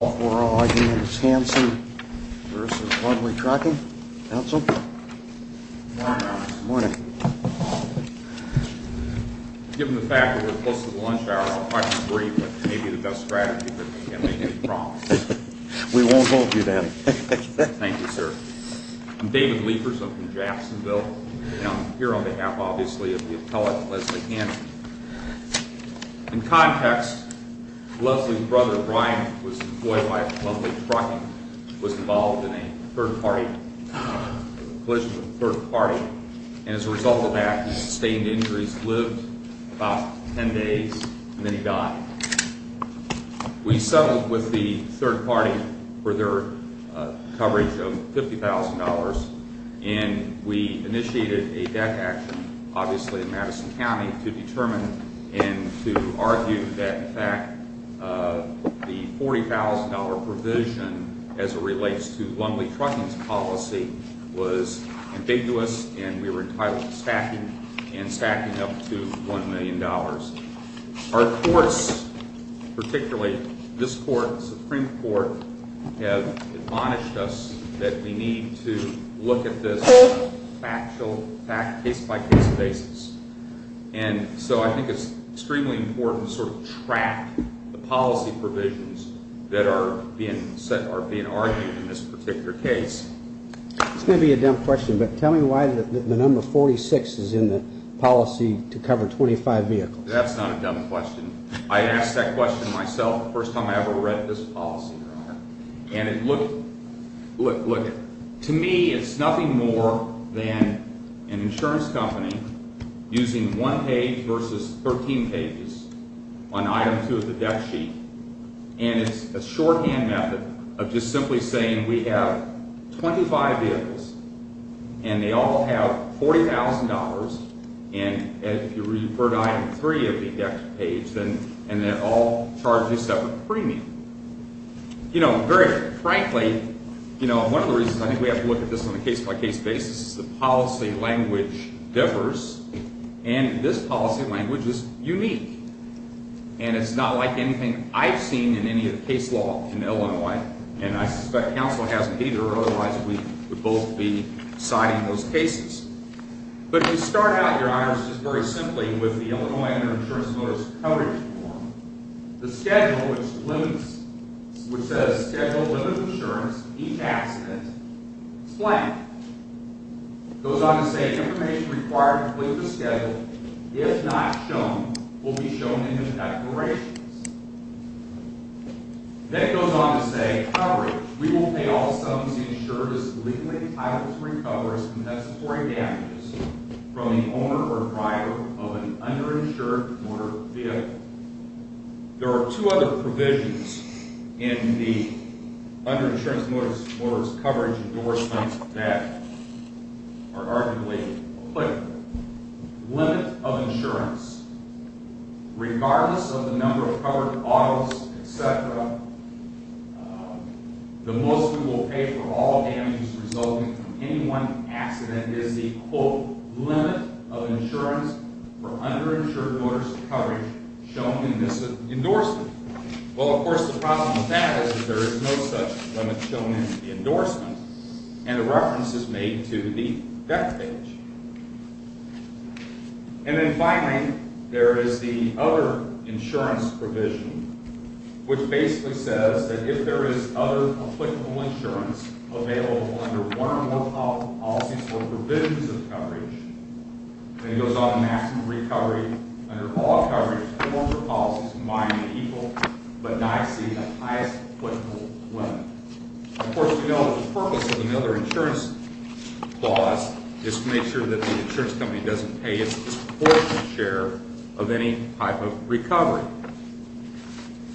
We're all here, it's Hanson v. Lumley Trucking. Council? Good morning, Officer. Good morning. Given the fact that we're close to the lunch hour, I'm quite aggrieved, but it may be the best strategy, but we can't make any promises. We won't hold you then. Thank you, sir. I'm David Liefers, I'm from Jacksonville, and I'm here on behalf, obviously, of the appellate, Leslie Hanson. In context, Leslie's brother, Brian, was employed by Lumley Trucking, was involved in a third party, a collision with a third party, and as a result of that, he sustained injuries, lived about ten days, and then he died. We settled with the third party for their coverage of $50,000, and we initiated a debt action, obviously in Madison County, to determine and to argue that, in fact, the $40,000 provision as it relates to Lumley Trucking's policy was ambiguous, and we were entitled to stacking, and stacking up to $1 million. Our courts, particularly this court, the Supreme Court, have admonished us that we need to look at this on a factual, case-by-case basis, and so I think it's extremely important to sort of track the policy provisions that are being argued in this particular case. It's going to be a dumb question, but tell me why the number 46 is in the policy to cover 25 vehicles. That's not a dumb question. I asked that question myself the first time I ever read this policy. And it looked, look, look, to me, it's nothing more than an insurance company using one page versus 13 pages on item two of the debt sheet, and it's a shorthand method of just simply saying we have 25 vehicles, and they all have $40,000, and if you refer to item three of the debt sheet page, and they're all charged a separate premium. You know, very frankly, you know, one of the reasons I think we have to look at this on a case-by-case basis is the policy language differs, and this policy language is unique, and it's not like anything I've seen in any of the case law in Illinois, and I suspect counsel hasn't either, otherwise we would both be citing those cases. But to start out, Your Honors, just very simply with the Illinois under insurance notice coverage form, the schedule which says schedule limited insurance, each accident, it's blank. It goes on to say information required to complete the schedule, if not shown, will be shown in the declarations. That goes on to say coverage, we will pay all sums insured as legally entitled to recover as compensatory damages from the owner or driver of an underinsured motor vehicle. There are two other provisions in the underinsured motor's coverage and door signs of debt are arguably clear. Limit of insurance, regardless of the number of covered autos, etc., the most we will pay for all damages resulting from any one accident is the, quote, underinsured motor's coverage shown in this endorsement. Well, of course, the problem with that is that there is no such limit shown in the endorsement, and the reference is made to the debt page. And then finally, there is the other insurance provision, which basically says that if there is other applicable insurance available under one or more policies or provisions of coverage, then it goes on to ask for recovery under all coverage forms or policies combining the equal but not exceeding the highest questionable limit. Of course, we know that the purpose of another insurance clause is to make sure that the insurance company doesn't pay its disproportionate share of any type of recovery.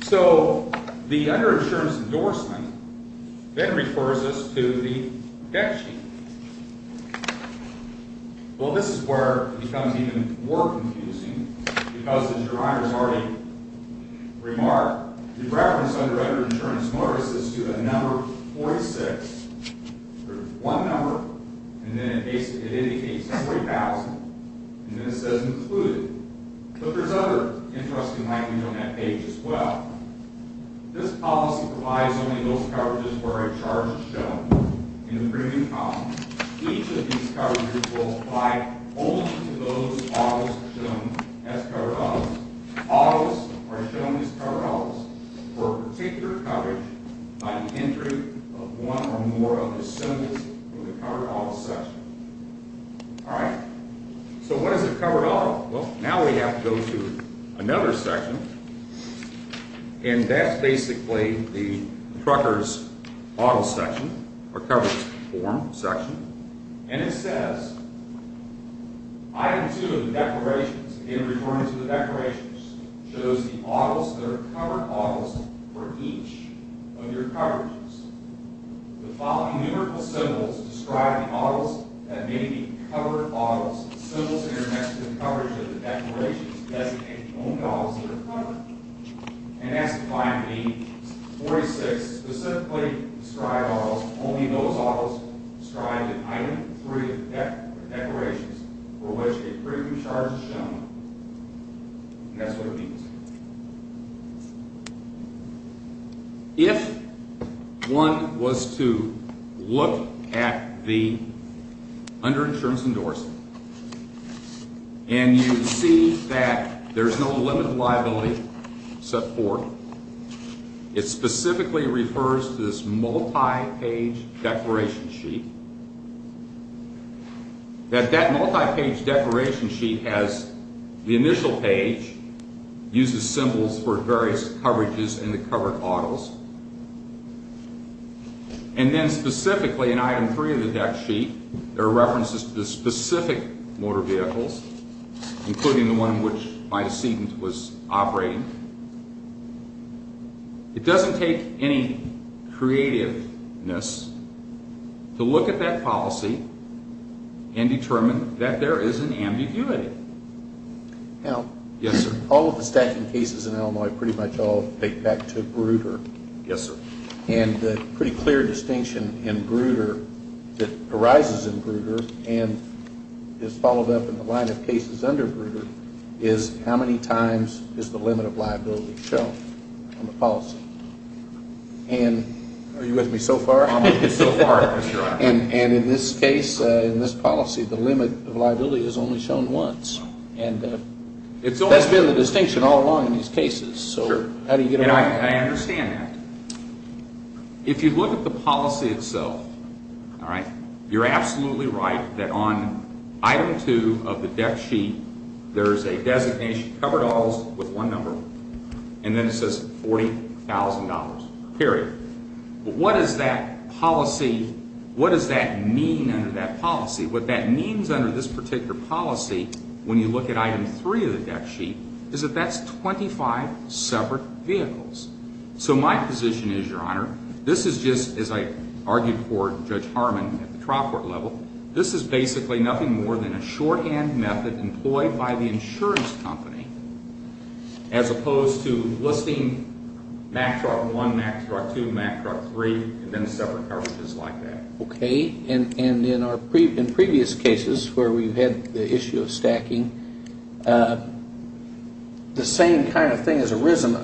So, the underinsured's endorsement then refers us to the debt sheet. Well, this is where it becomes even more confusing, because as your honor has already remarked, the reference under underinsured motorists is to a number 46. There's one number, and then it indicates $20,000, and then it says included. But there's other interesting language on that page as well. This policy provides only those coverages where a charge is shown in the premium column. Each of these coverages will apply only to those autos shown as covered autos. Autos are shown as covered autos for a particular coverage by the entry of one or more of the symbols in the covered auto section. All right, so what is a covered auto? Well, now we have to go to another section, and that's basically the trucker's auto section, or coverage form section. And it says, item 2 of the declarations, again referring to the declarations, shows the autos that are covered autos for each of your coverages. The following numerical symbols describe the autos that may be covered autos. Symbols that are next to the coverage of the declarations designate the only autos that are covered. And that's defined in the 46 specifically described autos, only those autos described in item 3 of the declarations, for which a premium charge is shown, and that's what it means. If one was to look at the under-insurance endorsement, and you see that there's no limited liability except for, it specifically refers to this multi-page declaration sheet, that that multi-page declaration sheet has the initial page, uses symbols for various coverages in the covered autos, and then specifically in item 3 of the deck sheet, there are references to the specific motor vehicles, including the one in which my decedent was operating. It doesn't take any creativeness to look at that policy and determine that there is an ambiguity. Now, all of the stacking cases in Illinois pretty much all take back to Bruder. And the pretty clear distinction in Bruder, that arises in Bruder, and is followed up in the line of cases under Bruder, is how many times is the limit of liability shown on the policy? And are you with me so far? And in this case, in this policy, the limit of liability is only shown once. And that's been the distinction all along in these cases. And I understand that. If you look at the policy itself, you're absolutely right that on item 2 of the deck sheet, there is a designation, covered autos with one number, and then it says $40,000, period. But what does that policy, what does that mean under that policy? What that means under this particular policy, when you look at item 3 of the deck sheet, is that that's 25 separate vehicles. So my position is, Your Honor, this is just, as I argued for Judge Harmon at the trial court level, this is basically nothing more than a shorthand method employed by the insurance company, as opposed to listing Mack Truck 1, Mack Truck 2, Mack Truck 3, and then separate coverages like that. Okay. And in previous cases where we've had the issue of stacking, the same kind of thing has arisen.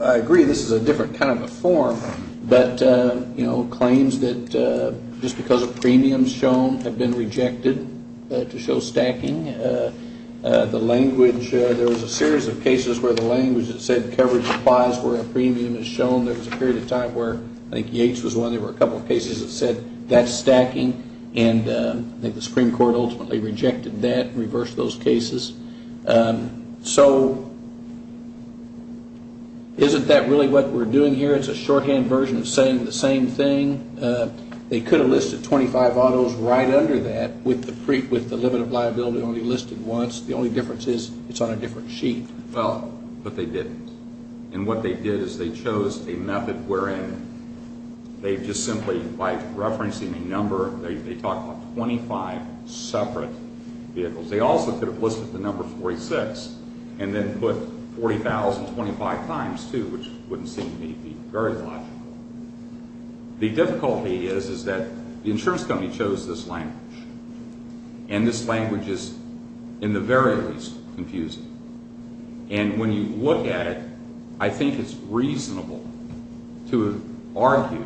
I agree this is a different kind of a form. But, you know, claims that just because of premiums shown have been rejected to show stacking. The language, there was a series of cases where the language that said coverage applies where a premium is shown. There was a period of time where, I think Yates was one, there were a couple of cases that said that's stacking. And I think the Supreme Court ultimately rejected that and reversed those cases. So isn't that really what we're doing here? It's a shorthand version of saying the same thing. They could have listed 25 autos right under that with the limit of liability only listed once. The only difference is it's on a different sheet. Well, but they didn't. And what they did is they chose a method wherein they just simply, by referencing the number, they talked about 25 separate vehicles. They also could have listed the number 46 and then put 40,000 25 times too, which wouldn't seem to me to be very logical. The difficulty is that the insurance company chose this language. And this language is, in the very least, confusing. And when you look at it, I think it's reasonable to argue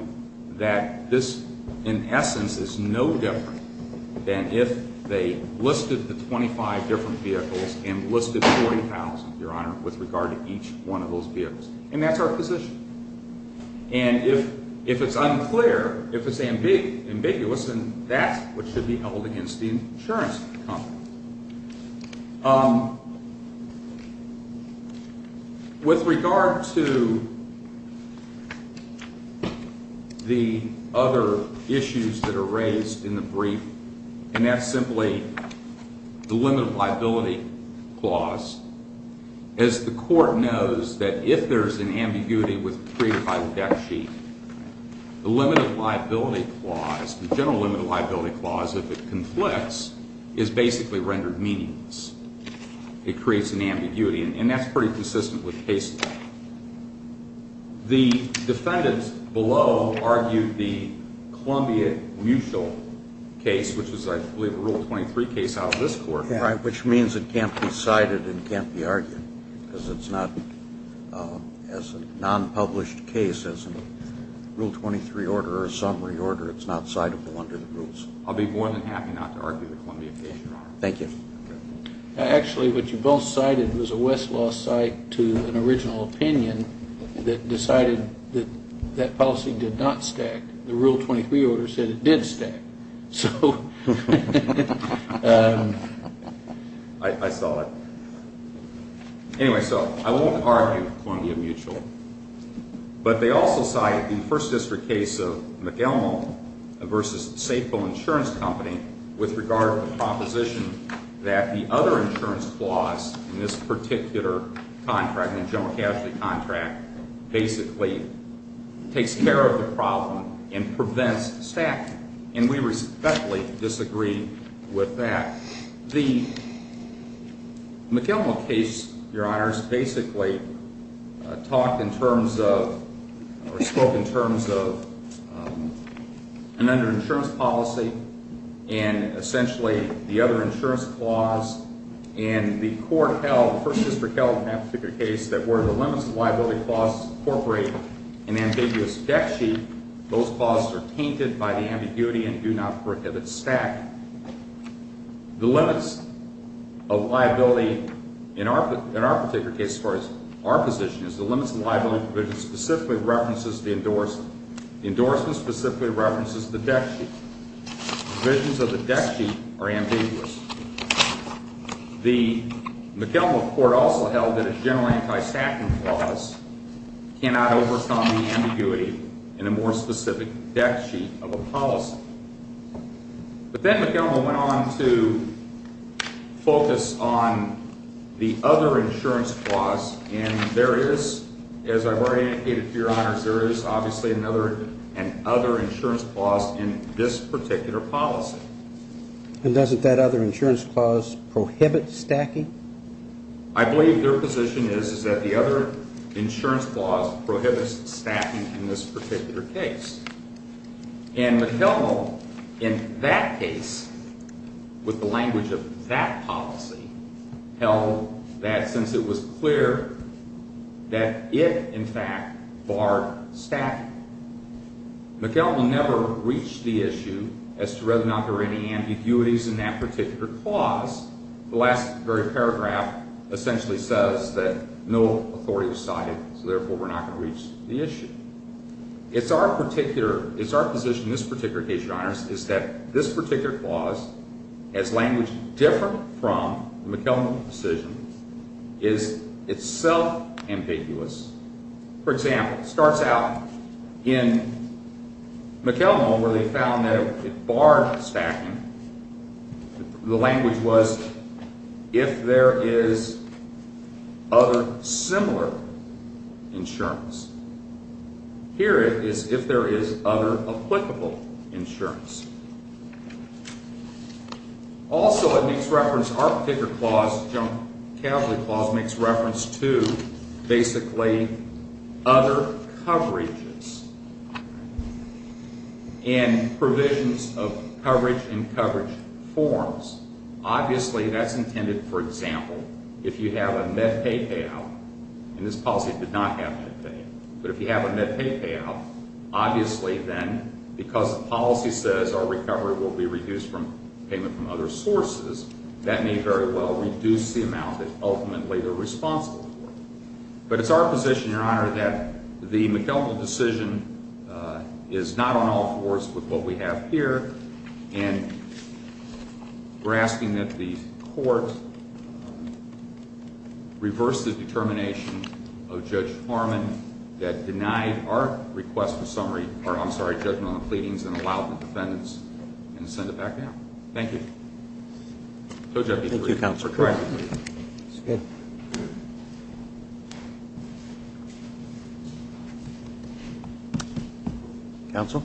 that this, in essence, is no different than if they listed the 25 different vehicles and listed 40,000, Your Honor, with regard to each one of those vehicles. And that's our position. And if it's unclear, if it's ambiguous, then that's what should be held against the insurance company. With regard to the other issues that are raised in the brief, and that's simply the limit of liability clause, as the court knows that if there's an ambiguity with the pre-final deck sheet, the limit of liability clause, the general limit of liability clause, if it conflicts, is basically rendered meaningless. It creates an ambiguity, and that's pretty consistent with case law. The defendants below argued the Columbia mutual case, which is, I believe, a Rule 23 case out of this court. Right, which means it can't be cited and can't be argued. Because it's not, as a non-published case, as a Rule 23 order or a summary order, it's not citable under the rules. I'll be more than happy not to argue the Columbia case, Your Honor. Thank you. Actually, what you both cited was a Westlaw site to an original opinion that decided that that policy did not stack. The Rule 23 order said it did stack. So, I saw that. Anyway, so I won't argue Columbia mutual. But they also cited the First District case of McElmo v. Safeville Insurance Company, with regard to the proposition that the other insurance clause in this particular contract, in the general casualty contract, basically takes care of the problem and prevents stack. We respectfully disagree with that. The McElmo case, Your Honors, basically talked in terms of, or spoke in terms of, an under-insurance policy and essentially the other insurance clause. And the court held, the First District held in that particular case, that where the limits of liability clause incorporate an ambiguous debt sheet, those clauses are tainted by the ambiguity and do not prohibit stack. The limits of liability in our particular case, as far as our position is, the limits of liability provision specifically references the endorsement. The endorsement specifically references the debt sheet. The provisions of the debt sheet are ambiguous. The McElmo court also held that a general anti-stacking clause cannot overcome the ambiguity in a more specific debt sheet of a policy. But then McElmo went on to focus on the other insurance clause, and there is, as I've already indicated to Your Honors, there is obviously another insurance clause in this particular policy. And doesn't that other insurance clause prohibit stacking? I believe their position is that the other insurance clause prohibits stacking in this particular case. And McElmo, in that case, with the language of that policy, held that since it was clear that it, in fact, barred stacking. McElmo never reached the issue as to whether or not there were any ambiguities in that particular clause. The last very paragraph essentially says that no authority was cited, so therefore we're not going to reach the issue. It's our particular, it's our position in this particular case, Your Honors, is that this particular clause, as language different from the McElmo decision, is itself ambiguous. For example, it starts out in McElmo where they found that it barred stacking. The language was, if there is other similar insurance. Here it is, if there is other applicable insurance. Also, it makes reference, our particular clause, General Cavalry Clause makes reference to basically other coverages and provisions of coverage and coverage forms. Obviously, that's intended, for example, if you have a MedPay payout, and this policy did not have MedPay, but if you have a MedPay payout, obviously then, because the policy says our recovery will be reduced from payment from other sources, that may very well reduce the amount that ultimately they're responsible for. But it's our position, Your Honor, that the McElmo decision is not on all fours with what we have here, and we're asking that the court reverse the determination of Judge Harmon that denied our request for summary, or I'm sorry, judgment on the pleadings and allow the defendants to send it back down. Thank you. I told you I'd be brief. Counsel, correct me, please. That's good. Counsel?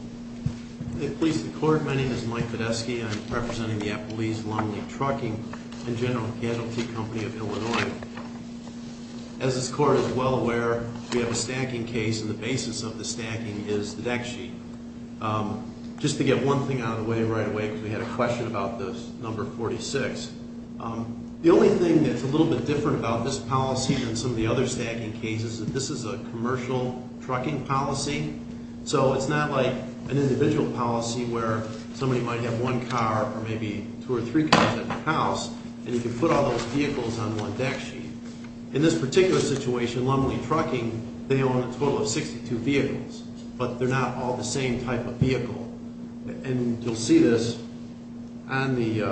Please, the court, my name is Mike Badesky. I'm representing the Appalese Longleaf Trucking and General Casualty Company of Illinois. As this court is well aware, we have a stacking case, and the basis of the stacking is the deck sheet. Just to get one thing out of the way right away, because we had a question about this, number 46, the only thing that's a little bit different about this policy than some of the other stacking cases is that this is a commercial trucking policy, so it's not like an individual policy where somebody might have one car or maybe two or three cars at their house, and you can put all those vehicles on one deck sheet. In this particular situation, Longleaf Trucking, they own a total of 62 vehicles, but they're not all the same type of vehicle. You'll see this on the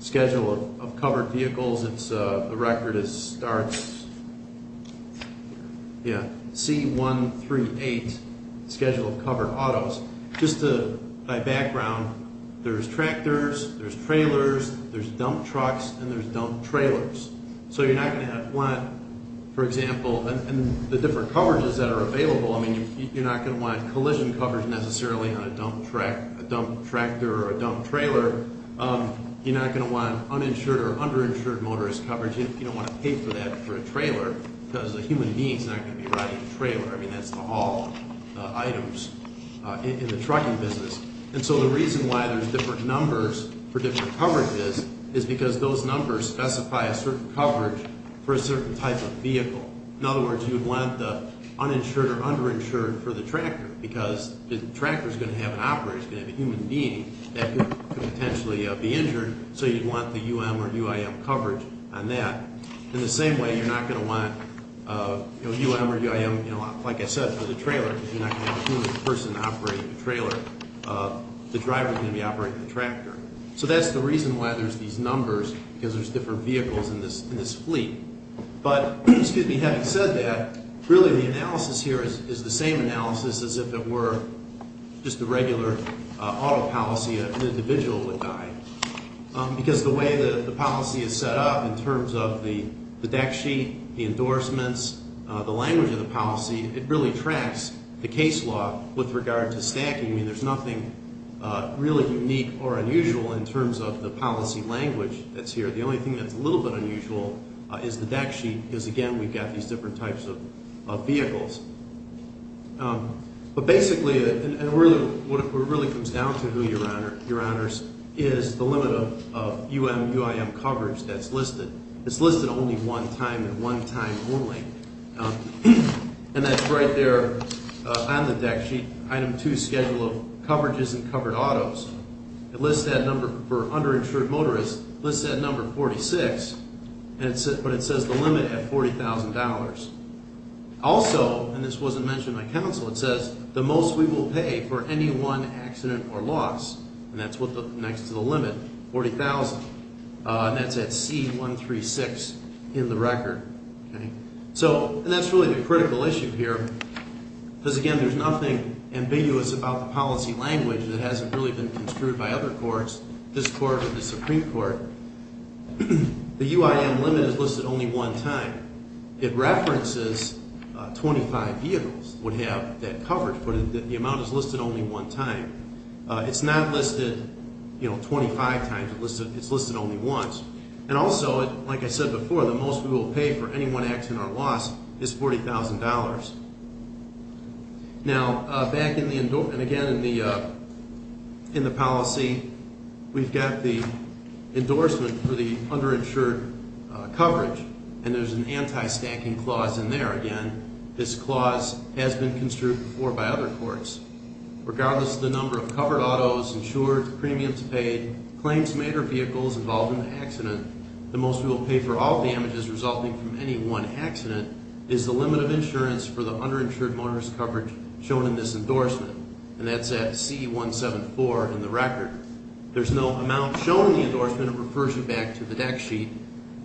schedule of covered vehicles. The record starts C138, Schedule of Covered Autos. Just by background, there's tractors, there's trailers, there's dump trucks, and there's dump trailers. So you're not going to want, for example, and the different coverages that are available, you're not going to want collision coverage necessarily on a dump tractor or a dump trailer. You're not going to want uninsured or underinsured motorist coverage. You don't want to pay for that for a trailer, because a human being's not going to be riding a trailer. I mean, that's for all items in the trucking business. And so the reason why there's different numbers for different coverages is because those numbers specify a certain coverage for a certain type of vehicle. In other words, you'd want the uninsured or underinsured for the tractor, because the tractor's going to have an operator, it's going to have a human being that could potentially be injured, so you'd want the UM or UIM coverage on that. In the same way, you're not going to want UM or UIM, like I said, for the trailer, because you're not going to have a human person operating the trailer. The driver's going to be operating the tractor. So that's the reason why there's these numbers, because there's different vehicles in this fleet. But having said that, really the analysis here is the same analysis as if it were just a regular auto policy, an individual would die. Because the way that the policy is set up in terms of the deck sheet, the endorsements, the language of the policy, it really tracks the case law with regard to stacking. I mean, there's nothing really unique or unusual in terms of the policy language that's here. The only thing that's a little bit unusual is the deck sheet, because again, we've got these different types of vehicles. But basically, what it really comes down to, Your Honors, is the limit of UM, UIM coverage that's listed. It's listed only one time and one time only. And that's right there on the deck sheet, item two, schedule of coverages and covered autos. It lists that number for underinsured motorists, it lists that number 46, but it says the limit at $40,000. Also, and this wasn't mentioned by counsel, it says the most we will pay for any one accident or loss, and that's next to the limit, 40,000. And that's at C136 in the record. And that's really the critical issue here, because again, there's nothing ambiguous about the policy language that hasn't really been construed by other courts, this court or the Supreme Court. The UIM limit is listed only one time. It references 25 vehicles would have that coverage, but the amount is listed only one time. It's not listed 25 times, it's listed only once. And also, like I said before, the most we will pay for any one accident or loss is $40,000. Now, back in the, and again, in the policy, we've got the endorsement for the underinsured coverage, and there's an anti-stacking clause in there. Again, this clause has been construed before by other courts. Regardless of the number of covered autos, insured, premiums paid, claims made or vehicles involved in the accident, the most we will pay for all damages resulting from any one accident is the limit of insurance for the underinsured motorist coverage shown in this endorsement. And that's at C174 in the record. There's no amount shown in the endorsement. It refers you back to the deck sheet.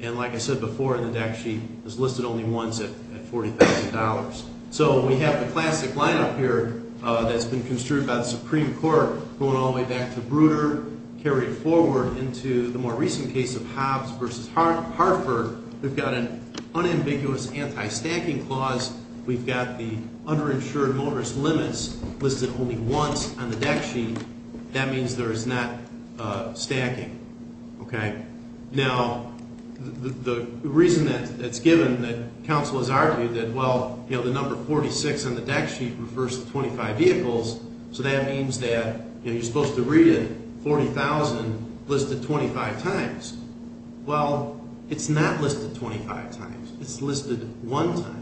And like I said before, the deck sheet is listed only once at $40,000. So we have the classic lineup here that's been construed by the Supreme Court going all the way back to Bruder, carried forward into the more recent case of Hobbs v. Hartford. We've got an unambiguous anti-stacking clause. We've got the underinsured motorist limits listed only once on the deck sheet. That means there is not stacking. Now, the reason that it's given that counsel has argued that, well, the number 46 on the deck sheet refers to 25 vehicles, so that means that you're supposed to read it, $40,000 listed 25 times. Well, it's not listed 25 times. It's listed one time.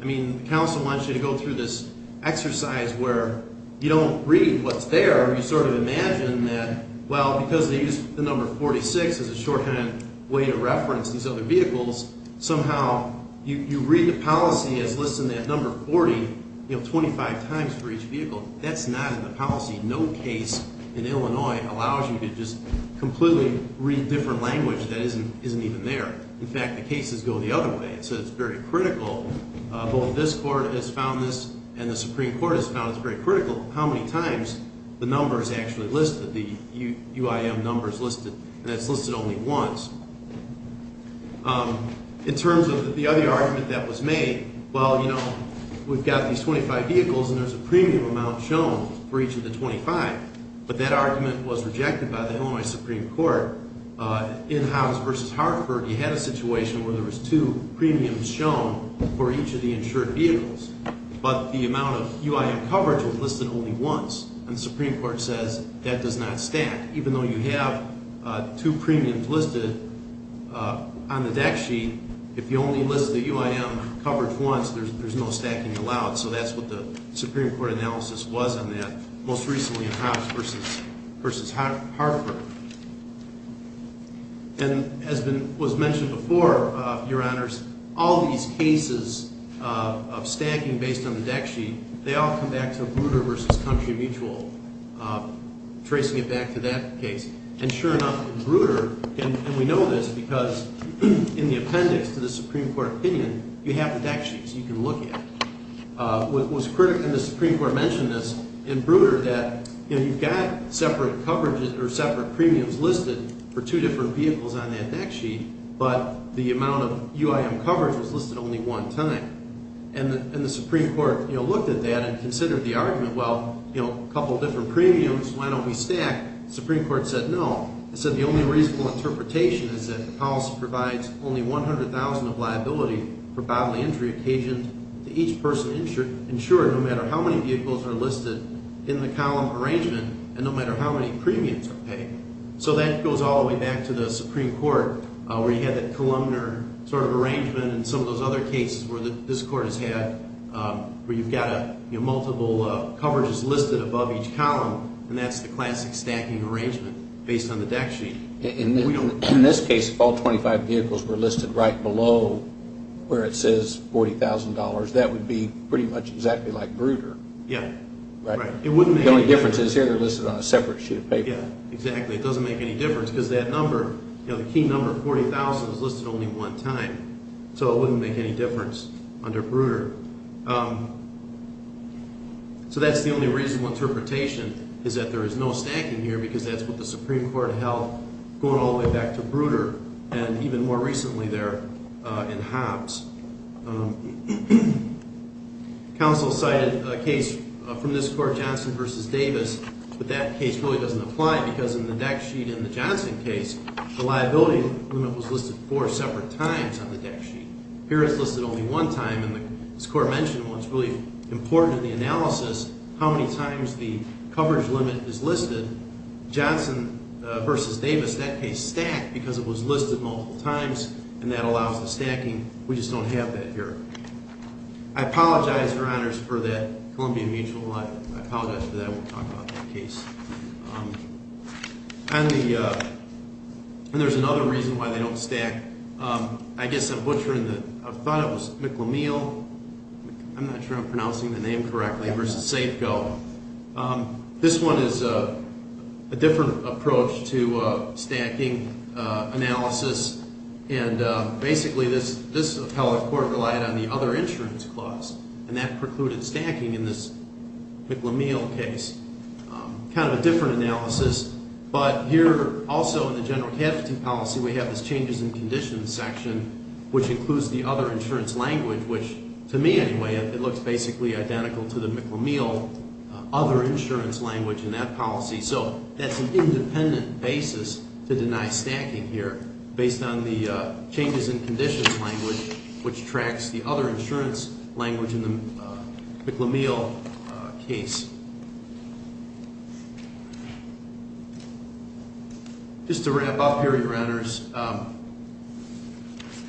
I mean, counsel wants you to go through this exercise where you don't read what's there. You sort of imagine that, well, because they use the number 46 as a shorthand way to reference these other vehicles, somehow you read the policy as listing that number 40 25 times for each vehicle. That's not in the policy. No case in Illinois allows you to just completely read different language that isn't even there. In fact, the cases go the other way. So it's very critical. Both this court has found this and the Supreme Court has found it's very critical how many times the number is actually listed, the UIM number is listed, and it's listed only once. In terms of the other argument that was made, well, you know, we've got these 25 vehicles and there's a premium amount shown for each of the 25, but that argument was rejected by the Illinois Supreme Court. In Hobbs v. Hartford, you had a situation where there was two premiums shown for each of the insured vehicles, but the amount of UIM coverage was listed only once, and the Supreme Court says that does not stack. Even though you have two premiums listed on the deck sheet, if you only list the UIM coverage once, there's no stacking allowed. So that's what the Supreme Court analysis was on that, most recently in Hobbs v. Hartford. And as was mentioned before, Your Honors, all these cases of stacking based on the deck sheet, they all come back to Bruder v. Country Mutual, tracing it back to that case. And sure enough, Bruder, and we know this because in the appendix to the Supreme Court opinion, you have the deck sheets you can look at. What was critical, and the Supreme Court mentioned this, in Bruder that you've got separate premiums listed for two different vehicles on that deck sheet, but the amount of UIM coverage was listed only one time. And the Supreme Court looked at that and considered the argument, well, a couple different premiums, why don't we stack? The Supreme Court said no. It said the only reasonable interpretation is that the policy provides only $100,000 of liability for bodily injury occasioned to each person insured, no matter how many vehicles are listed in the column arrangement, and no matter how many premiums are paid. So that goes all the way back to the Supreme Court, where you had that columnar sort of arrangement, and some of those other cases where this Court has had, where you've got multiple coverages listed above each column, and that's the classic stacking arrangement based on the deck sheet. In this case, if all 25 vehicles were listed right below where it says $40,000, that would be pretty much exactly like Bruder. Yeah, right. The only difference is here they're listed on a separate sheet of paper. Yeah, exactly, it doesn't make any difference, because that number, the key number, 40,000, is listed only one time, so it wouldn't make any difference under Bruder. So that's the only reasonable interpretation, is that there is no stacking here, because that's what the Supreme Court held going all the way back to Bruder, and even more recently there in Hobbs. Counsel cited a case from this Court, Johnson v. Davis, but that case really doesn't apply, because in the deck sheet in the Johnson case, the liability limit was listed four separate times on the deck sheet. Here it's listed only one time, and this Court mentioned what's really important in the analysis, how many times the coverage limit is listed. because it was listed multiple times, and that allows the stacking. We just don't have that here. I apologize, Your Honors, for that Columbian Mutual, I apologize for that, I won't talk about that case. And there's another reason why they don't stack. I guess I'm butchering the, I thought it was McLean, I'm not sure I'm pronouncing the name correctly, versus Safeco. This one is a different approach to stacking analysis, and basically this, this is how the Court relied on the other insurance clause, and that precluded stacking in this McLean case. Kind of a different analysis, but here also in the general capacity policy, we have this changes in conditions section, which includes the other insurance language, which to me anyway, it looks basically identical to the McLean other insurance language in that policy, so that's an independent basis to deny stacking here, based on the changes in the other insurance language, which tracks the other insurance language in the McLean case. Just to wrap up here, your honors,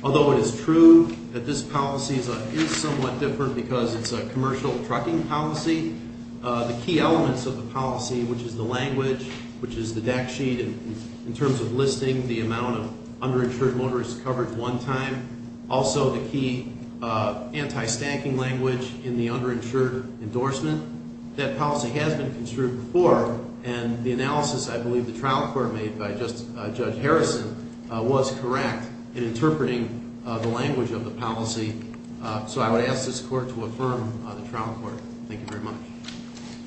although it is true that this policy is somewhat different because it's a commercial trucking policy, the key elements of the policy, which is the language, which is the deck sheet, in terms of listing the amount of underinsured motorist coverage one time, and also the key anti-stacking language in the underinsured endorsement, that policy has been construed before, and the analysis I believe the trial court made by Judge Harrison was correct in interpreting the language of the policy, so I would ask this court to affirm the trial court. Thank you very much.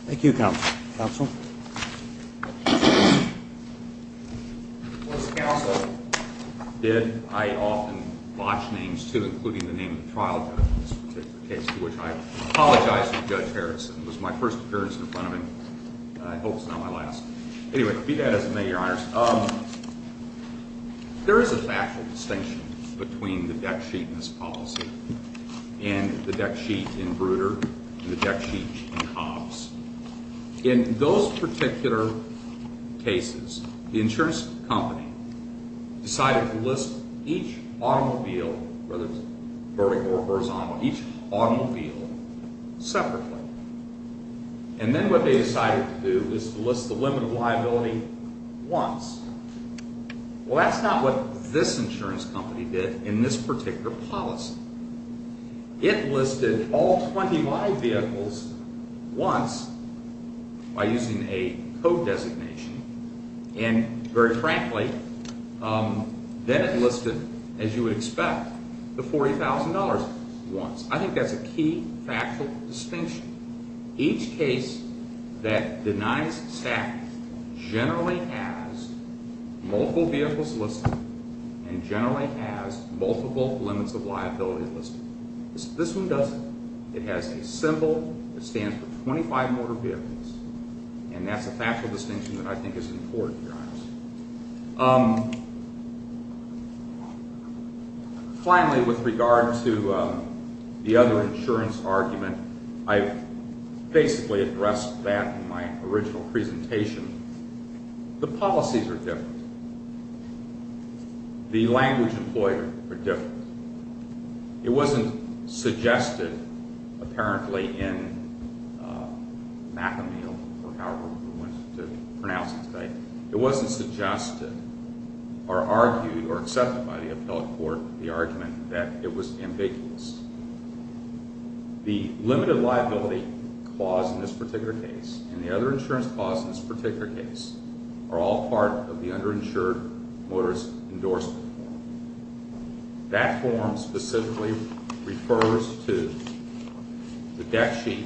Thank you, counsel. Counsel? Once counsel did, I often watch names including the name of the trial judge in this particular case to which I apologize to Judge Harrison. It was my first appearance in front of him, and I hope it's not my last. Anyway, be that as it may, your honors, there is a factual distinction between the deck sheet in this policy and the deck sheet in Bruder and the deck sheet in Hobbs. In those particular cases, the insurance company decided to list each automobile, whether it's vertical or horizontal, each automobile separately. And then what they decided to do was to list the limit of liability once. Well, that's not what this insurance company did in this particular policy. It listed all 20 live vehicles once by using a code designation, and very frankly, then it listed, as you would expect, the $40,000 once. I think that's a key factual distinction. Each case that denies static generally has multiple vehicles listed and generally has multiple limits of liability listed. This one doesn't. It has a symbol that stands for 25 motor vehicles, and that's a factual distinction that I think is important, but I don't know. Finally, with regard to the other insurance argument, I basically addressed that in my original presentation. The policies are different. The language employed are different. It wasn't suggested apparently in McAmeel or however we want to pronounce it today. It wasn't suggested or argued or accepted by the appellate court the argument that it was ambiguous. The limited liability clause in this particular case and the other insurance clause in this particular case are all part of the underinsured motorist endorsement form. That form specifically refers to the debt sheet,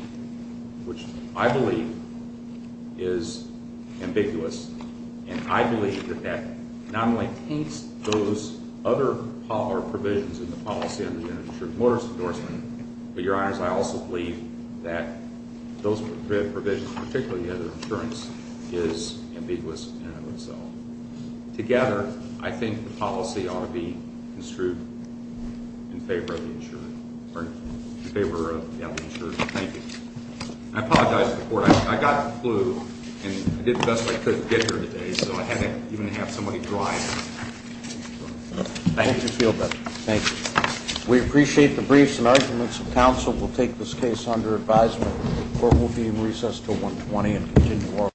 which I believe is ambiguous, and I believe that that not only paints those other provisions in the policy of the underinsured motorist endorsement, but, Your Honors, I also believe that those provisions, particularly the other insurance, is ambiguous in and of itself. Together, I think the policy ought to be construed in favor of the insured or in favor of the underinsured. Thank you. I apologize to the court. I got the flu and did the best I could to get here today, so I had to even have somebody drive. I hope you feel better. Thank you. We appreciate the briefs and arguments. The council will take this case under advisement. The court will be in recess until 1.20 and continue our work.